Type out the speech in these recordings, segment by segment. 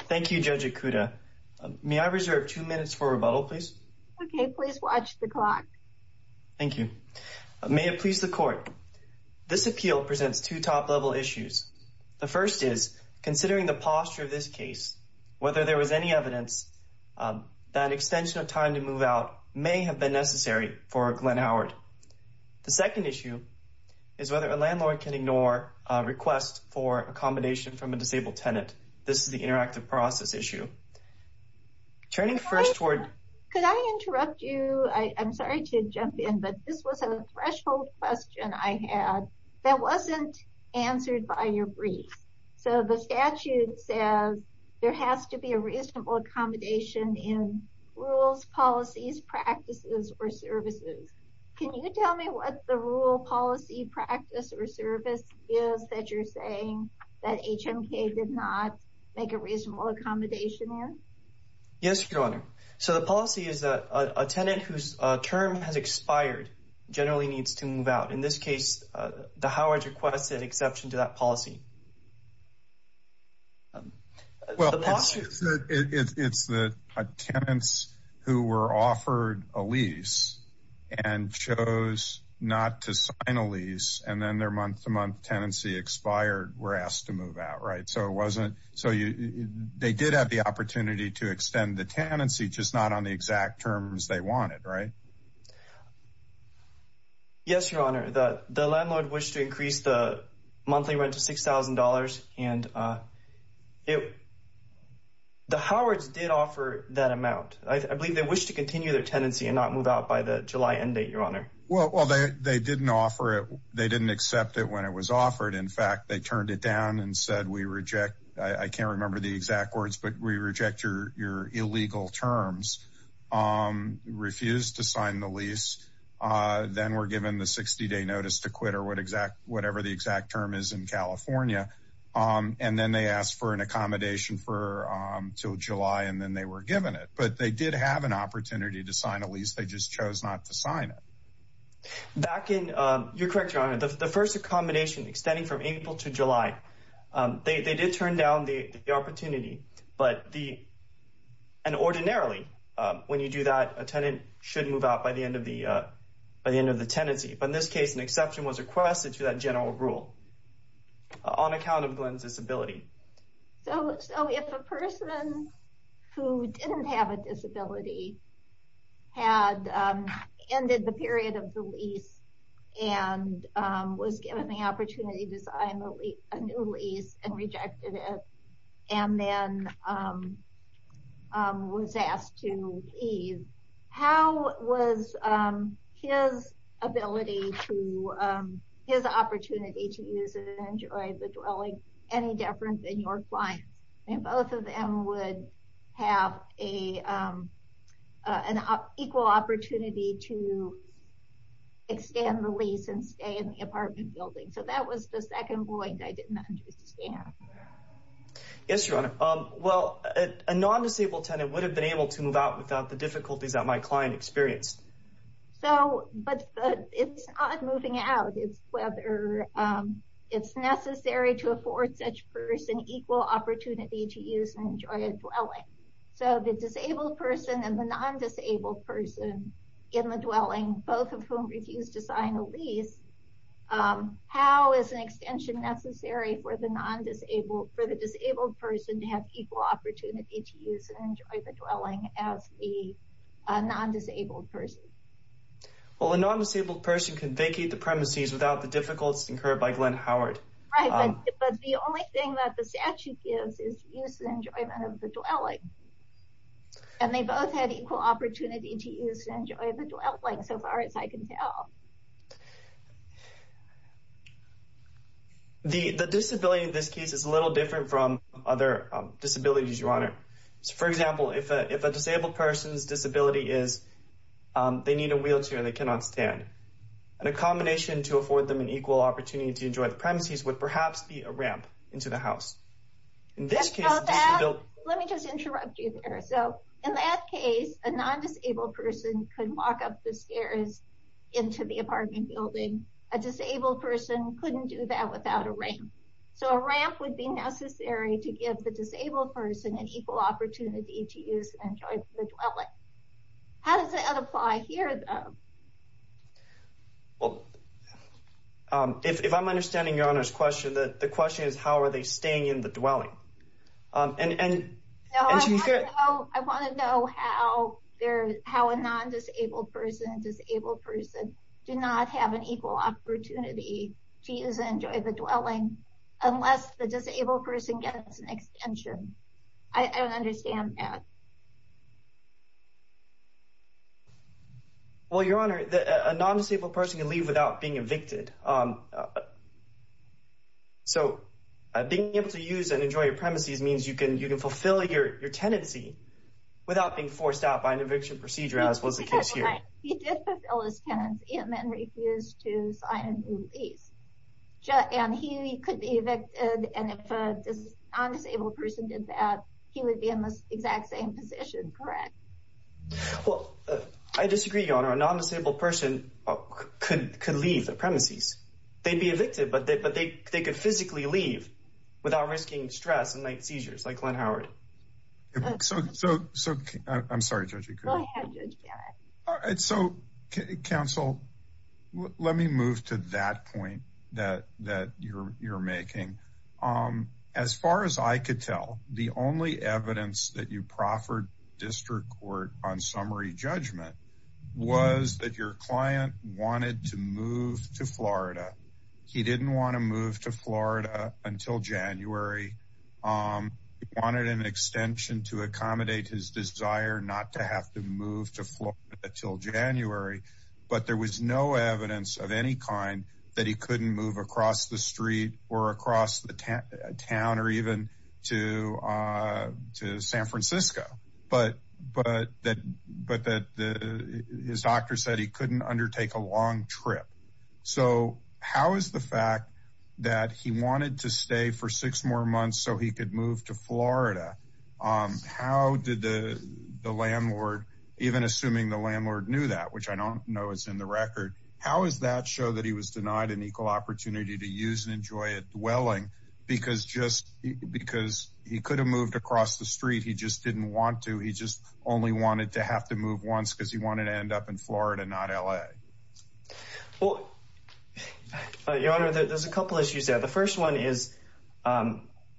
Thank you, Judge Ikuda. May I reserve two minutes for rebuttal, please? Okay, please watch the clock. Thank you. May it please the Court. This appeal presents two top-level issues. The first is, considering the posture of this case, whether there was any evidence that an extension of time to move out may have been necessary for Glenn Howard. The second issue is whether a landlord can ignore a request for accommodation from a disabled tenant. This is the interactive process issue. Could I interrupt you? I'm sorry to jump in, but this was a threshold question I had that wasn't answered by your briefs. So the statute says there has to be a reasonable accommodation in rules, policies, practices, or services. Can you tell me what the rule, policy, practice, or service is that you're saying that HMK did not make a reasonable accommodation in? Yes, Your Honor. So the policy is that a tenant whose term has expired generally needs to move out. In this case, the Howards requested exception to that policy. Well, it's the tenants who were offered a lease and chose not to sign a lease, and then their month-to-month tenancy expired, were asked to move out, right? So they did have the opportunity to extend the tenancy, just not on the exact terms they wanted, right? Yes, Your Honor. The landlord wished to increase the monthly rent to $6,000, and the Howards did offer that amount. I believe they wished to continue their tenancy and not move out by the July end date, Your Honor. Well, they didn't offer it. They didn't accept it when it was offered. In fact, they turned it down and said, I can't remember the exact words, but we reject your illegal terms, refused to sign the lease. Then were given the 60-day notice to quit or whatever the exact term is in California, and then they asked for an accommodation until July, and then they were given it. But they did have an opportunity to sign a lease. They just chose not to sign it. You're correct, Your Honor. The first accommodation extending from April to July, they did turn down the opportunity, but ordinarily when you do that, a tenant should move out by the end of the tenancy. But in this case, an exception was requested to that general rule on account of Glenn's disability. So if a person who didn't have a disability had ended the period of the lease and was given the opportunity to sign a new lease and rejected it and then was asked to leave, how was his ability to, his opportunity to use and enjoy the dwelling any different than your client's? Both of them would have an equal opportunity to extend the lease and stay in the apartment building. So that was the second point I didn't understand. Yes, Your Honor. Well, a non-disabled tenant would have been able to move out without the difficulties that my client experienced. But it's not moving out. It's whether it's necessary to afford such person equal opportunity to use and enjoy a dwelling. So the disabled person and the non-disabled person in the dwelling, both of whom refused to sign a lease, how is an extension necessary for the disabled person to have equal opportunity to use and enjoy the dwelling as the non-disabled person? Well, a non-disabled person can vacate the premises without the difficulties incurred by Glenn Howard. Right, but the only thing that the statute gives is use and enjoyment of the dwelling. And they both had equal opportunity to use and enjoy the dwelling so far as I can tell. The disability in this case is a little different from other disabilities, Your Honor. For example, if a disabled person's disability is they need a wheelchair and they cannot stand, an accommodation to afford them an equal opportunity to enjoy the premises would perhaps be a ramp into the house. Let me just interrupt you there. So in that case, a non-disabled person could walk up the stairs into the apartment building. A disabled person couldn't do that without a ramp. So a ramp would be necessary to give the disabled person an equal opportunity to use and enjoy the dwelling. How does that apply here, though? Well, if I'm understanding Your Honor's question, the question is how are they staying in the dwelling. No, I want to know how a non-disabled person and a disabled person do not have an equal opportunity to use and enjoy the dwelling unless the disabled person gets an extension. I don't understand that. Well, Your Honor, a non-disabled person can leave without being evicted. So being able to use and enjoy your premises means you can fulfill your tenancy without being forced out by an eviction procedure as was the case here. He did fulfill his tenancy and then refused to sign a new lease. And he could be evicted and if a non-disabled person did that, he would be in the exact same position, correct? Well, I disagree, Your Honor. A non-disabled person could leave the premises. They'd be evicted, but they could physically leave without risking stress and seizures like Glenn Howard. I'm sorry, Judge Ikuda. Go ahead, Judge Barrett. So, counsel, let me move to that point that you're making. As far as I could tell, the only evidence that you proffered District Court on summary judgment was that your client wanted to move to Florida. He didn't want to move to Florida until January. He wanted an extension to accommodate his desire not to have to move to Florida until January. But there was no evidence of any kind that he couldn't move across the street or across the town or even to San Francisco. But his doctor said he couldn't undertake a long trip. So how is the fact that he wanted to stay for six more months so he could move to Florida, how did the landlord, even assuming the landlord knew that, which I don't know is in the record, how does that show that he was denied an equal opportunity to use and enjoy a dwelling because he could have moved across the street. He just didn't want to. He just only wanted to have to move once because he wanted to end up in Florida, not L.A. Well, Your Honor, there's a couple of issues there. The first one is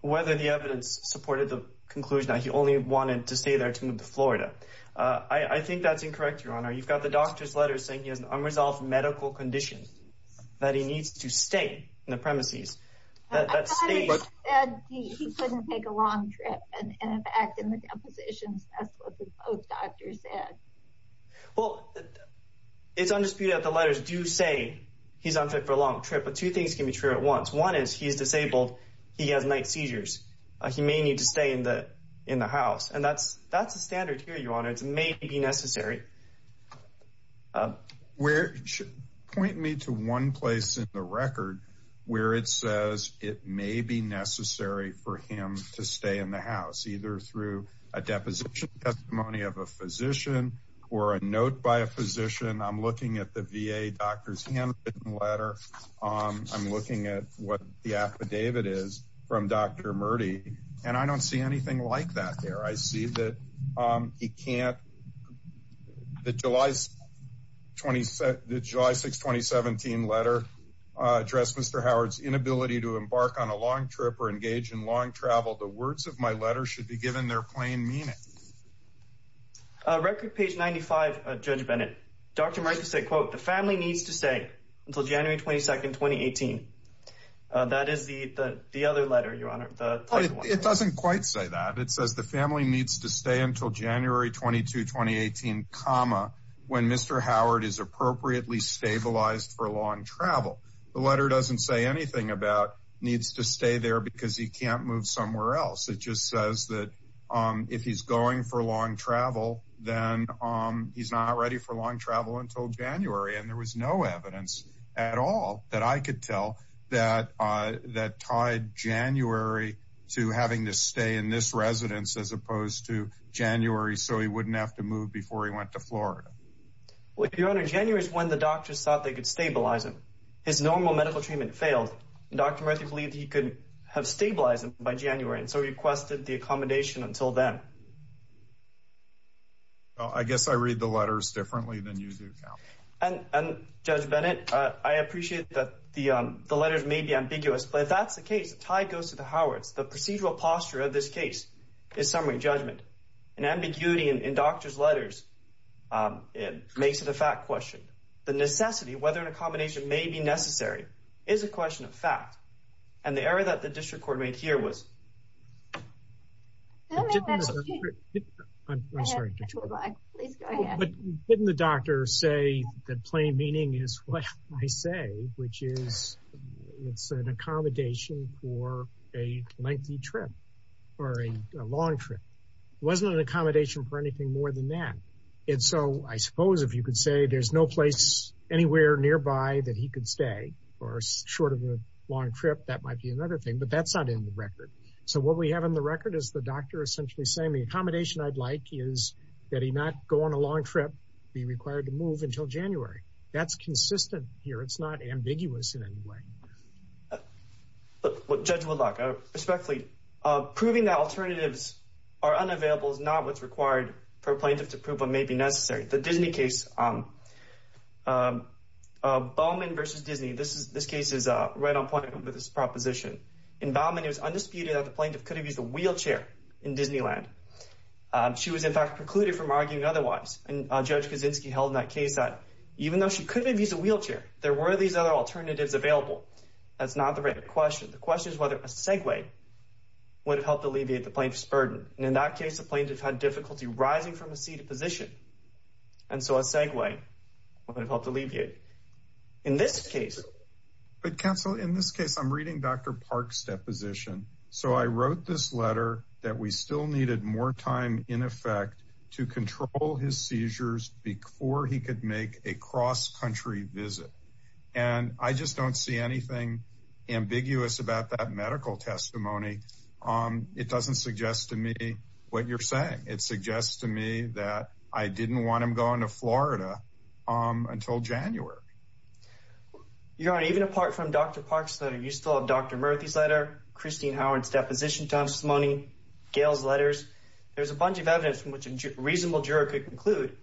whether the evidence supported the conclusion that he only wanted to stay there to move to Florida. I think that's incorrect, Your Honor. You've got the doctor's letter saying he has an unresolved medical condition, that he needs to stay in the premises. I thought it said he couldn't take a long trip, and in fact in the depositions that's what the doctor said. Well, it's undisputed that the letters do say he's on a long trip, but two things can be true at once. One is he's disabled, he has night seizures. He may need to stay in the house, and that's the standard here, Your Honor. It may be necessary. Point me to one place in the record where it says it may be necessary for him to stay in the house, either through a deposition testimony of a physician or a note by a physician. I'm looking at the VA doctor's handwritten letter. I'm looking at what the affidavit is from Dr. Murty, and I don't see anything like that there. I see that the July 6, 2017 letter addressed Mr. Howard's inability to embark on a long trip or engage in long travel. The words of my letter should be given their plain meaning. Record page 95, Judge Bennett. Dr. Murty said, quote, the family needs to stay until January 22, 2018. That is the other letter, Your Honor. It doesn't quite say that. It says the family needs to stay until January 22, 2018, comma, when Mr. Howard is appropriately stabilized for long travel. The letter doesn't say anything about needs to stay there because he can't move somewhere else. It just says that if he's going for long travel, then he's not ready for long travel until January, and there was no evidence at all that I could tell that tied January to having to stay in this residence as opposed to January so he wouldn't have to move before he went to Florida. Well, Your Honor, January is when the doctors thought they could stabilize him. His normal medical treatment failed, and Dr. Murty believed he could have stabilized him by January and so requested the accommodation until then. Well, I guess I read the letters differently than you do, Cal. And, Judge Bennett, I appreciate that the letters may be ambiguous, but if that's the case, the tie goes to the Howards. The procedural posture of this case is summary judgment. And ambiguity in doctors' letters makes it a fact question. The necessity, whether an accommodation may be necessary, is a question of fact. And the error that the district court made here was… I'm sorry. But didn't the doctor say that plain meaning is what I say, which is it's an accommodation for a lengthy trip or a long trip? It wasn't an accommodation for anything more than that. And so I suppose if you could say there's no place anywhere nearby that he could stay or short of a long trip, that might be another thing. But that's not in the record. So what we have in the record is the doctor essentially saying the accommodation I'd like is that he not go on a long trip, be required to move until January. That's consistent here. It's not ambiguous in any way. Judge Woodlock, respectfully, proving that alternatives are unavailable is not what's required for a plaintiff to prove what may be necessary. The Disney case, Baumann v. Disney, this case is right on point with this proposition. In Baumann, it was undisputed that the plaintiff could have used a wheelchair in Disneyland. She was, in fact, precluded from arguing otherwise. And Judge Kaczynski held in that case that even though she could have used a wheelchair, there were these other alternatives available. That's not the right question. The question is whether a segue would have helped alleviate the plaintiff's burden. And in that case, the plaintiff had difficulty rising from a seated position. And so a segue would have helped alleviate. In this case. But counsel, in this case, I'm reading Dr. Park's deposition. So I wrote this letter that we still needed more time in effect to control his seizures before he could make a cross-country visit. And I just don't see anything ambiguous about that medical testimony. It doesn't suggest to me what you're saying. It suggests to me that I didn't want him going to Florida until January. Your Honor, even apart from Dr. Park's letter, you still have Dr. Murthy's letter, Christine Howard's deposition testimony, Gail's letters. There's a bunch of evidence from which a reasonable juror could conclude,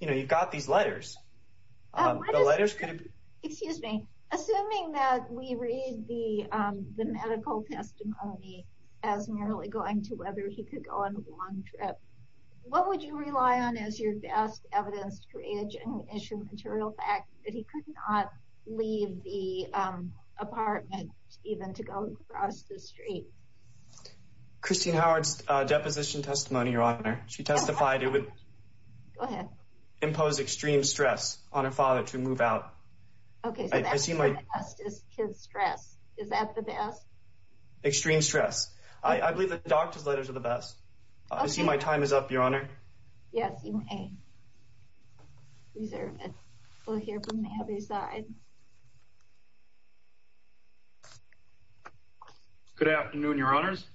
you know, you've got these letters. The letters could have been. Excuse me. Assuming that we read the medical testimony as merely going to whether he could go on a long trip, what would you rely on as your best evidence to create a genuine issue material fact that he could not leave the apartment, even to go across the street? Christine Howard's deposition testimony, Your Honor. She testified it would impose extreme stress on her father to move out. Okay. I see my stress. Is that the best? Extreme stress. I believe the doctor's letters are the best. I see. My time is up, Your Honor. Yes, you may. We'll hear from the other side. Good afternoon, Your Honors.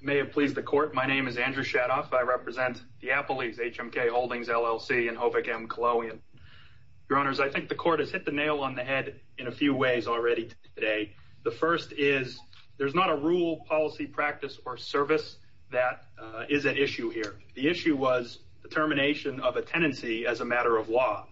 May it please the court. My name is Andrew Shadoff. I represent the Diapolis HMK Holdings LLC in Hovick M. Killowian. Your Honors, I think the court has hit the nail on the head in a few ways already today. The first is there's not a rule, policy, practice, or service that is at issue here. The issue was the termination of a tenancy as a matter of law.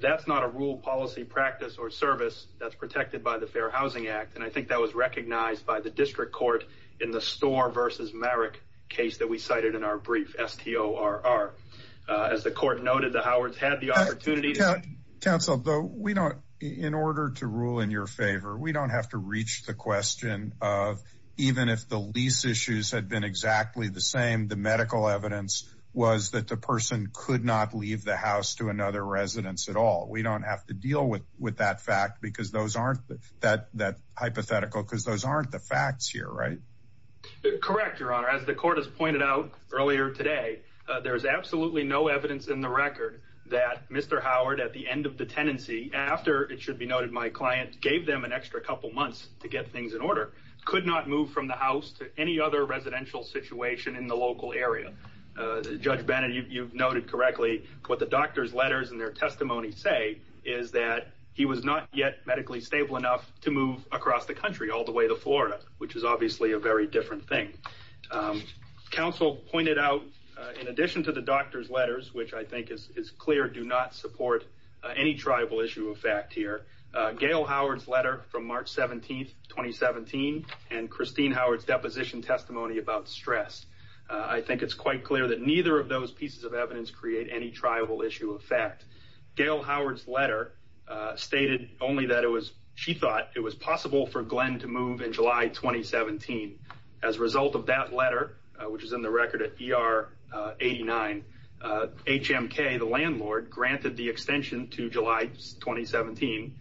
That's not a rule, policy, practice, or service that's protected by the Fair Housing Act. And I think that was recognized by the district court in the Storr v. Marrick case that we cited in our brief, S-T-O-R-R. As the court noted, the Howards had the opportunity to see. Counsel, in order to rule in your favor, we don't have to reach the question of even if the lease issues had been exactly the same, the medical evidence was that the person could not leave the house to another residence at all. We don't have to deal with that hypothetical because those aren't the facts here, right? Correct, Your Honor. As the court has pointed out earlier today, there's absolutely no evidence in the record that Mr. Howard, at the end of the tenancy, after it should be noted my client gave them an extra couple months to get things in order, could not move from the house to any other residential situation in the local area. Judge Bennett, you've noted correctly what the doctor's letters and their testimony say is that he was not yet medically stable enough to move across the country all the way to Florida, which is obviously a very different thing. Counsel pointed out, in addition to the doctor's letters, which I think is clear, do not support any triable issue of fact here, Gail Howard's letter from March 17th, 2017, and Christine Howard's deposition testimony about stress, I think it's quite clear that neither of those pieces of evidence create any triable issue of fact. Gail Howard's letter stated only that she thought it was possible for Glenn to move in July 2017. As a result of that letter, which is in the record at ER 89, HMK, the landlord, granted the extension to July 2017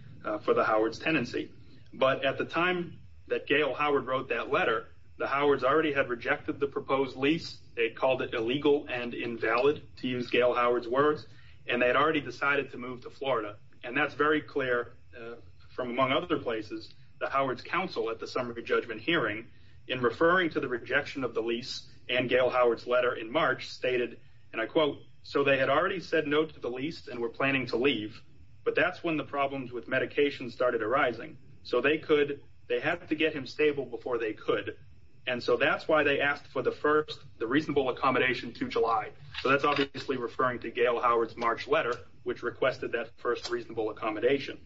for the Howard's tenancy. But at the time that Gail Howard wrote that letter, the Howards already had rejected the proposed lease. They called it illegal and invalid, to use Gail Howard's words, and they had already decided to move to Florida. And that's very clear from, among other places, the Howard's counsel at the summary judgment hearing in referring to the rejection of the lease. And Gail Howard's letter in March stated, and I quote, so they had already said no to the lease and were planning to leave. But that's when the problems with medication started arising. So they could they have to get him stable before they could. And so that's why they asked for the first the reasonable accommodation to July. So that's obviously referring to Gail Howard's March letter, which requested that first reasonable accommodation.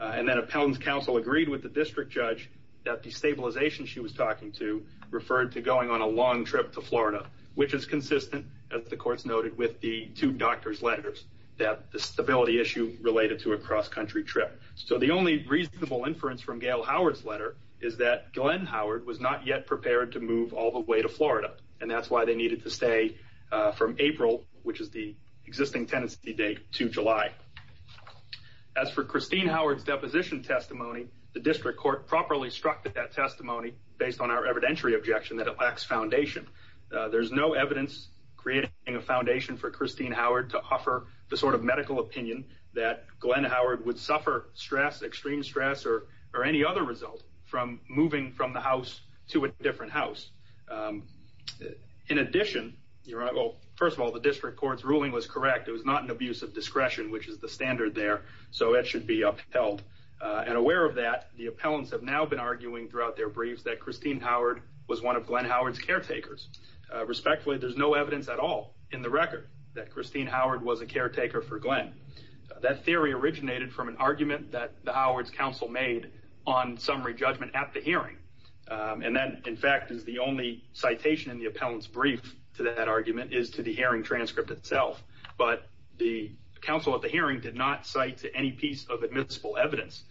And then a panel's counsel agreed with the district judge that the stabilization she was talking to referred to going on a long trip to Florida, which is consistent, as the courts noted, with the two doctors letters that the stability issue related to a cross-country trip. So the only reasonable inference from Gail Howard's letter is that Glenn Howard was not yet prepared to move all the way to Florida. And that's why they needed to stay from April, which is the existing tenancy date to July. As for Christine Howard's deposition testimony, the district court properly struck that testimony based on our evidentiary objection that it lacks foundation. There's no evidence creating a foundation for Christine Howard to offer the sort of medical opinion that Glenn Howard would suffer stress, extreme stress or or any other result from moving from the house to a different house. In addition, you're right. Well, first of all, the district court's ruling was correct. It was not an abuse of discretion, which is the standard there. So it should be upheld and aware of that. The appellants have now been arguing throughout their briefs that Christine Howard was one of Glenn Howard's caretakers. Respectfully, there's no evidence at all in the record that Christine Howard was a caretaker for Glenn. That theory originated from an argument that the Howard's counsel made on summary judgment at the hearing. And that, in fact, is the only citation in the appellant's brief to that argument is to the hearing transcript itself. But the counsel at the hearing did not cite any piece of admissible evidence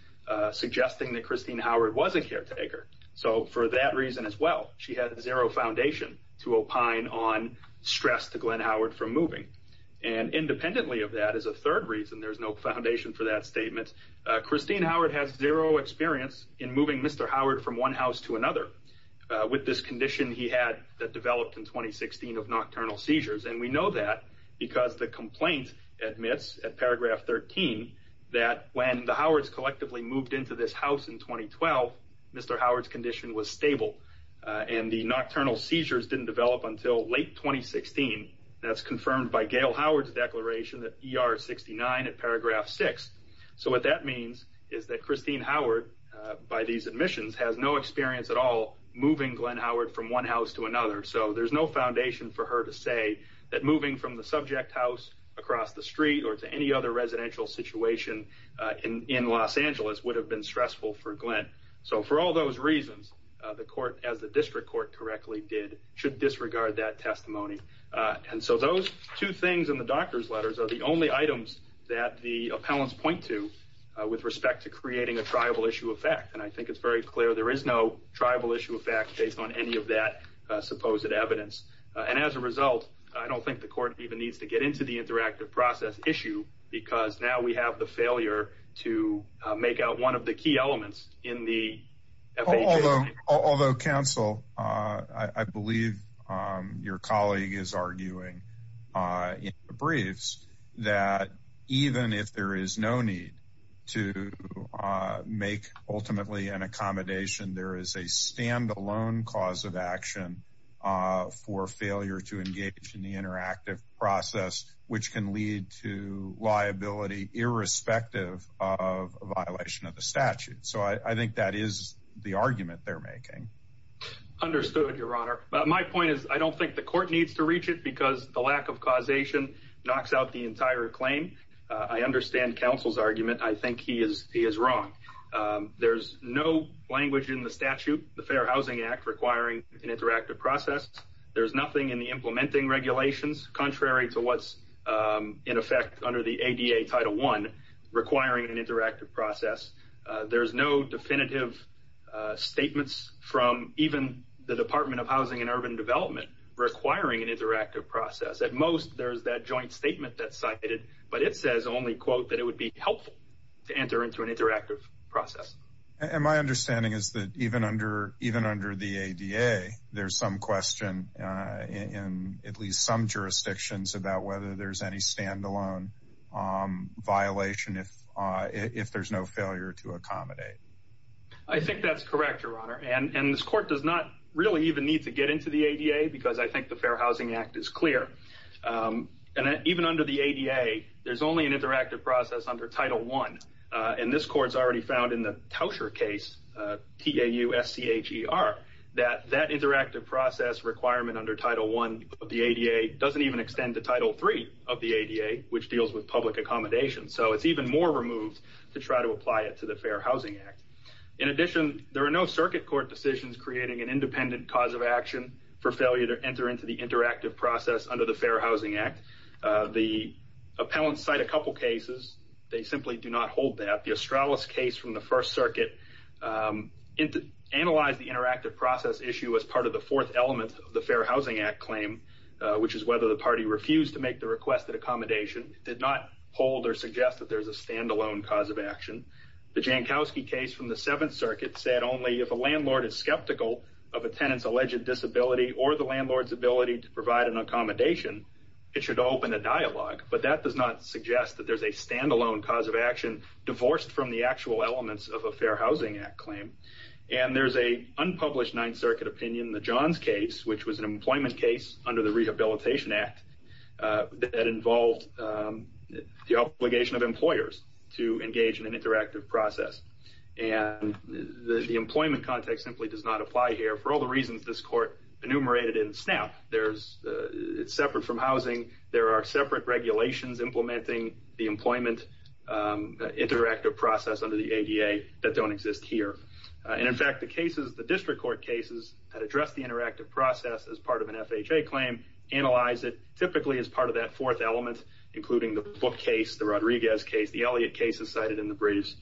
suggesting that Christine Howard was a caretaker. So for that reason as well, she had zero foundation to opine on stress to Glenn Howard for moving. And independently of that as a third reason, there's no foundation for that statement. Christine Howard has zero experience in moving Mr. Howard from one house to another with this condition he had that developed in 2016 of nocturnal seizures. And we know that because the complaint admits at paragraph 13 that when the Howard's collectively moved into this house in 2012, Mr. Howard's condition was stable and the nocturnal seizures didn't develop until late 2016. That's confirmed by Gail Howard's declaration that ER 69 at paragraph six. So what that means is that Christine Howard, by these admissions, has no experience at all moving Glenn Howard from one house to another. So there's no foundation for her to say that moving from the subject house across the street or to any other residential situation in Los Angeles would have been stressful for Glenn. So for all those reasons, the court, as the district court correctly did, should disregard that testimony. And so those two things in the doctor's letters are the only items that the appellants point to with respect to creating a triable issue of fact. And I think it's very clear there is no tribal issue of fact based on any of that supposed evidence. And as a result, I don't think the court even needs to get into the interactive process issue because now we have the failure to make out one of the key elements in the. Although counsel, I believe your colleague is arguing in the briefs that even if there is no need to make ultimately an accommodation, there is a standalone cause of action for failure to engage in the interactive process, which can lead to liability irrespective of a violation of the statute. So I think that is the argument they're making understood, Your Honor. But my point is, I don't think the court needs to reach it because the lack of causation knocks out the entire claim. I understand counsel's argument. I think he is. He is wrong. There's no language in the statute. The Fair Housing Act requiring an interactive process. There's nothing in the implementing regulations contrary to what's in effect under the ADA Title one requiring an interactive process. There's no definitive statements from even the Department of Housing and Urban Development requiring an interactive process. At most, there's that joint statement that cited, but it says only, quote, that it would be helpful to enter into an interactive process. And my understanding is that even under even under the ADA, there's some question in at least some jurisdictions about whether there's any standalone violation. If if there's no failure to accommodate, I think that's correct, Your Honor. And this court does not really even need to get into the ADA because I think the Fair Housing Act is clear. And even under the ADA, there's only an interactive process under Title one. And this court's already found in the Tauscher case, TAUSCHER, that that interactive process requirement under Title one of the ADA doesn't even extend to Title three of the ADA, which deals with public accommodation. So it's even more removed to try to apply it to the Fair Housing Act. In addition, there are no circuit court decisions creating an independent cause of action for failure to enter into the interactive process under the Fair Housing Act. The appellants cite a couple cases. They simply do not hold that. The Australis case from the First Circuit analyzed the interactive process issue as part of the fourth element of the Fair Housing Act claim, which is whether the party refused to make the request that accommodation did not hold or suggest that there's a standalone cause of action. The Jankowski case from the Seventh Circuit said only if a landlord is skeptical of a tenant's alleged disability or the landlord's ability to provide an accommodation, it should open a dialogue. But that does not suggest that there's a standalone cause of action divorced from the actual elements of a Fair Housing Act claim. And there's a unpublished Ninth Circuit opinion, the Johns case, which was an employment case under the Rehabilitation Act that involved the obligation of employers to engage in an interactive process. And the employment context simply does not apply here for all the reasons this court enumerated in SNAP. It's separate from housing. There are separate regulations implementing the employment interactive process under the ADA that don't exist here. And in fact, the district court cases that address the interactive process as part of an FHA claim analyze it typically as part of that fourth element, including the Book case, the Rodriguez case, the Elliott case as cited in the briefs,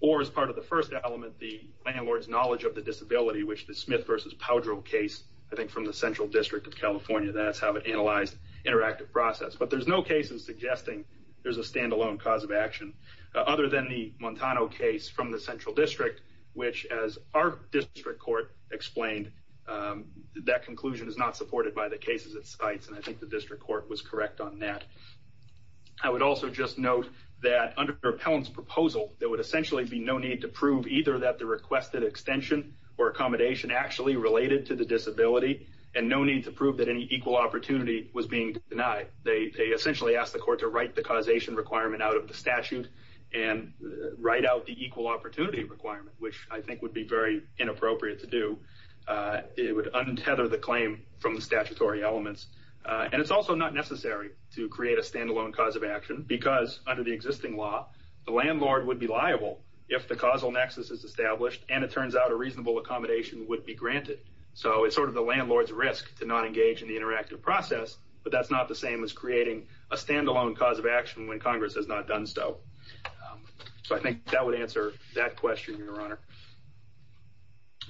or as part of the first element, the landlord's knowledge of the disability, which the Smith v. Powdrow case, I think from the Central District of California, that's how it analyzed interactive process. But there's no cases suggesting there's a standalone cause of action other than the Montano case from the Central District, which as our district court explained, that conclusion is not supported by the cases it cites. And I think the district court was correct on that. I would also just note that under Pelham's proposal, there would essentially be no need to prove either that the requested extension or accommodation actually related to the disability and no need to prove that any equal opportunity was being denied. They essentially asked the court to write the causation requirement out of the statute and write out the equal opportunity requirement, which I think would be very inappropriate to do. It would untether the claim from the statutory elements. And it's also not necessary to create a standalone cause of action because under the existing law, the landlord would be liable if the causal nexus is established and it turns out a reasonable accommodation would be granted. So it's sort of the landlord's risk to not engage in the interactive process. But that's not the same as creating a standalone cause of action when Congress has not done so. So I think that would answer that question, Your Honor.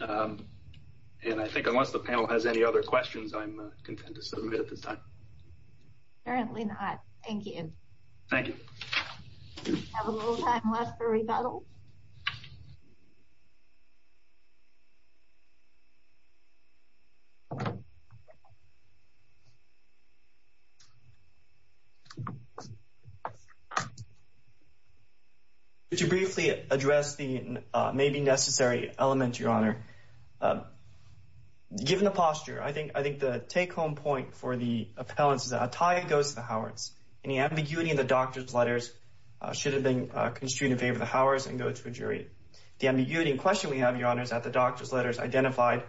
And I think unless the panel has any other questions, I'm content to submit at this time. Apparently not. Thank you. Thank you. Have a little time left for rebuttal. Thank you, Your Honor. Given the posture, I think the take-home point for the appellants is that a tie goes to the Howards. Any ambiguity in the doctor's letters should have been construed in favor of the Howards and go to a jury. The ambiguity in question we have, Your Honor, is that the doctor's letters identified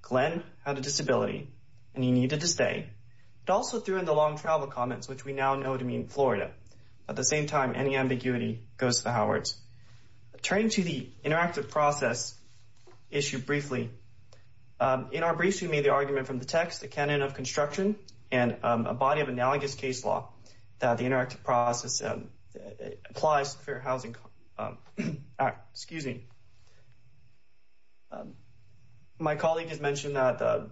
Glenn had a disability and he needed to stay. It also threw in the long travel comments, which we now know to mean Florida. At the same time, any ambiguity goes to the Howards. Turning to the interactive process issue briefly, in our briefs we made the argument from the text, the canon of construction, and a body of analogous case law that the interactive process applies to Fair Housing Act. Excuse me. My colleague has mentioned that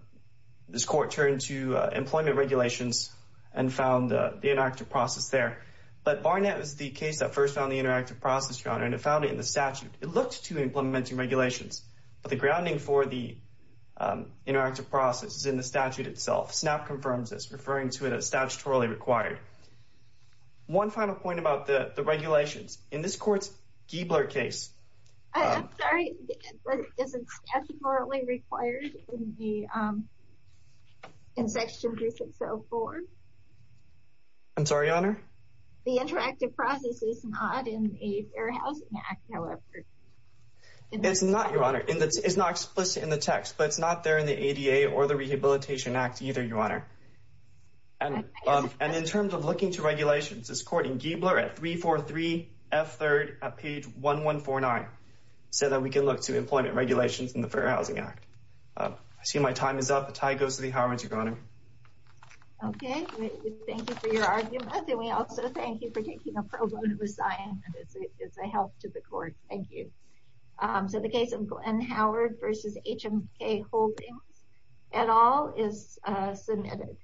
this court turned to employment regulations and found the interactive process there. But Barnett was the case that first found the interactive process, Your Honor, and it found it in the statute. It looked to implementing regulations, but the grounding for the interactive process is in the statute itself. SNAP confirms this, referring to it as statutorily required. One final point about the regulations. In this court's Giebler case — I'm sorry. Is it statutorily required in Section 3604? I'm sorry, Your Honor. The interactive process is not in the Fair Housing Act, however. It's not, Your Honor. It's not explicit in the text, but it's not there in the ADA or the Rehabilitation Act either, Your Honor. And in terms of looking to regulations, this court in Giebler at 343 F3rd at page 1149 said that we can look to employment regulations in the Fair Housing Act. I see my time is up. The tie goes to the Howards, Your Honor. Okay. Thank you for your argument, and we also thank you for taking a pro bono assignment. It's a help to the court. Thank you. So the case of Glenn Howard v. HMK Holdings et al. is submitted.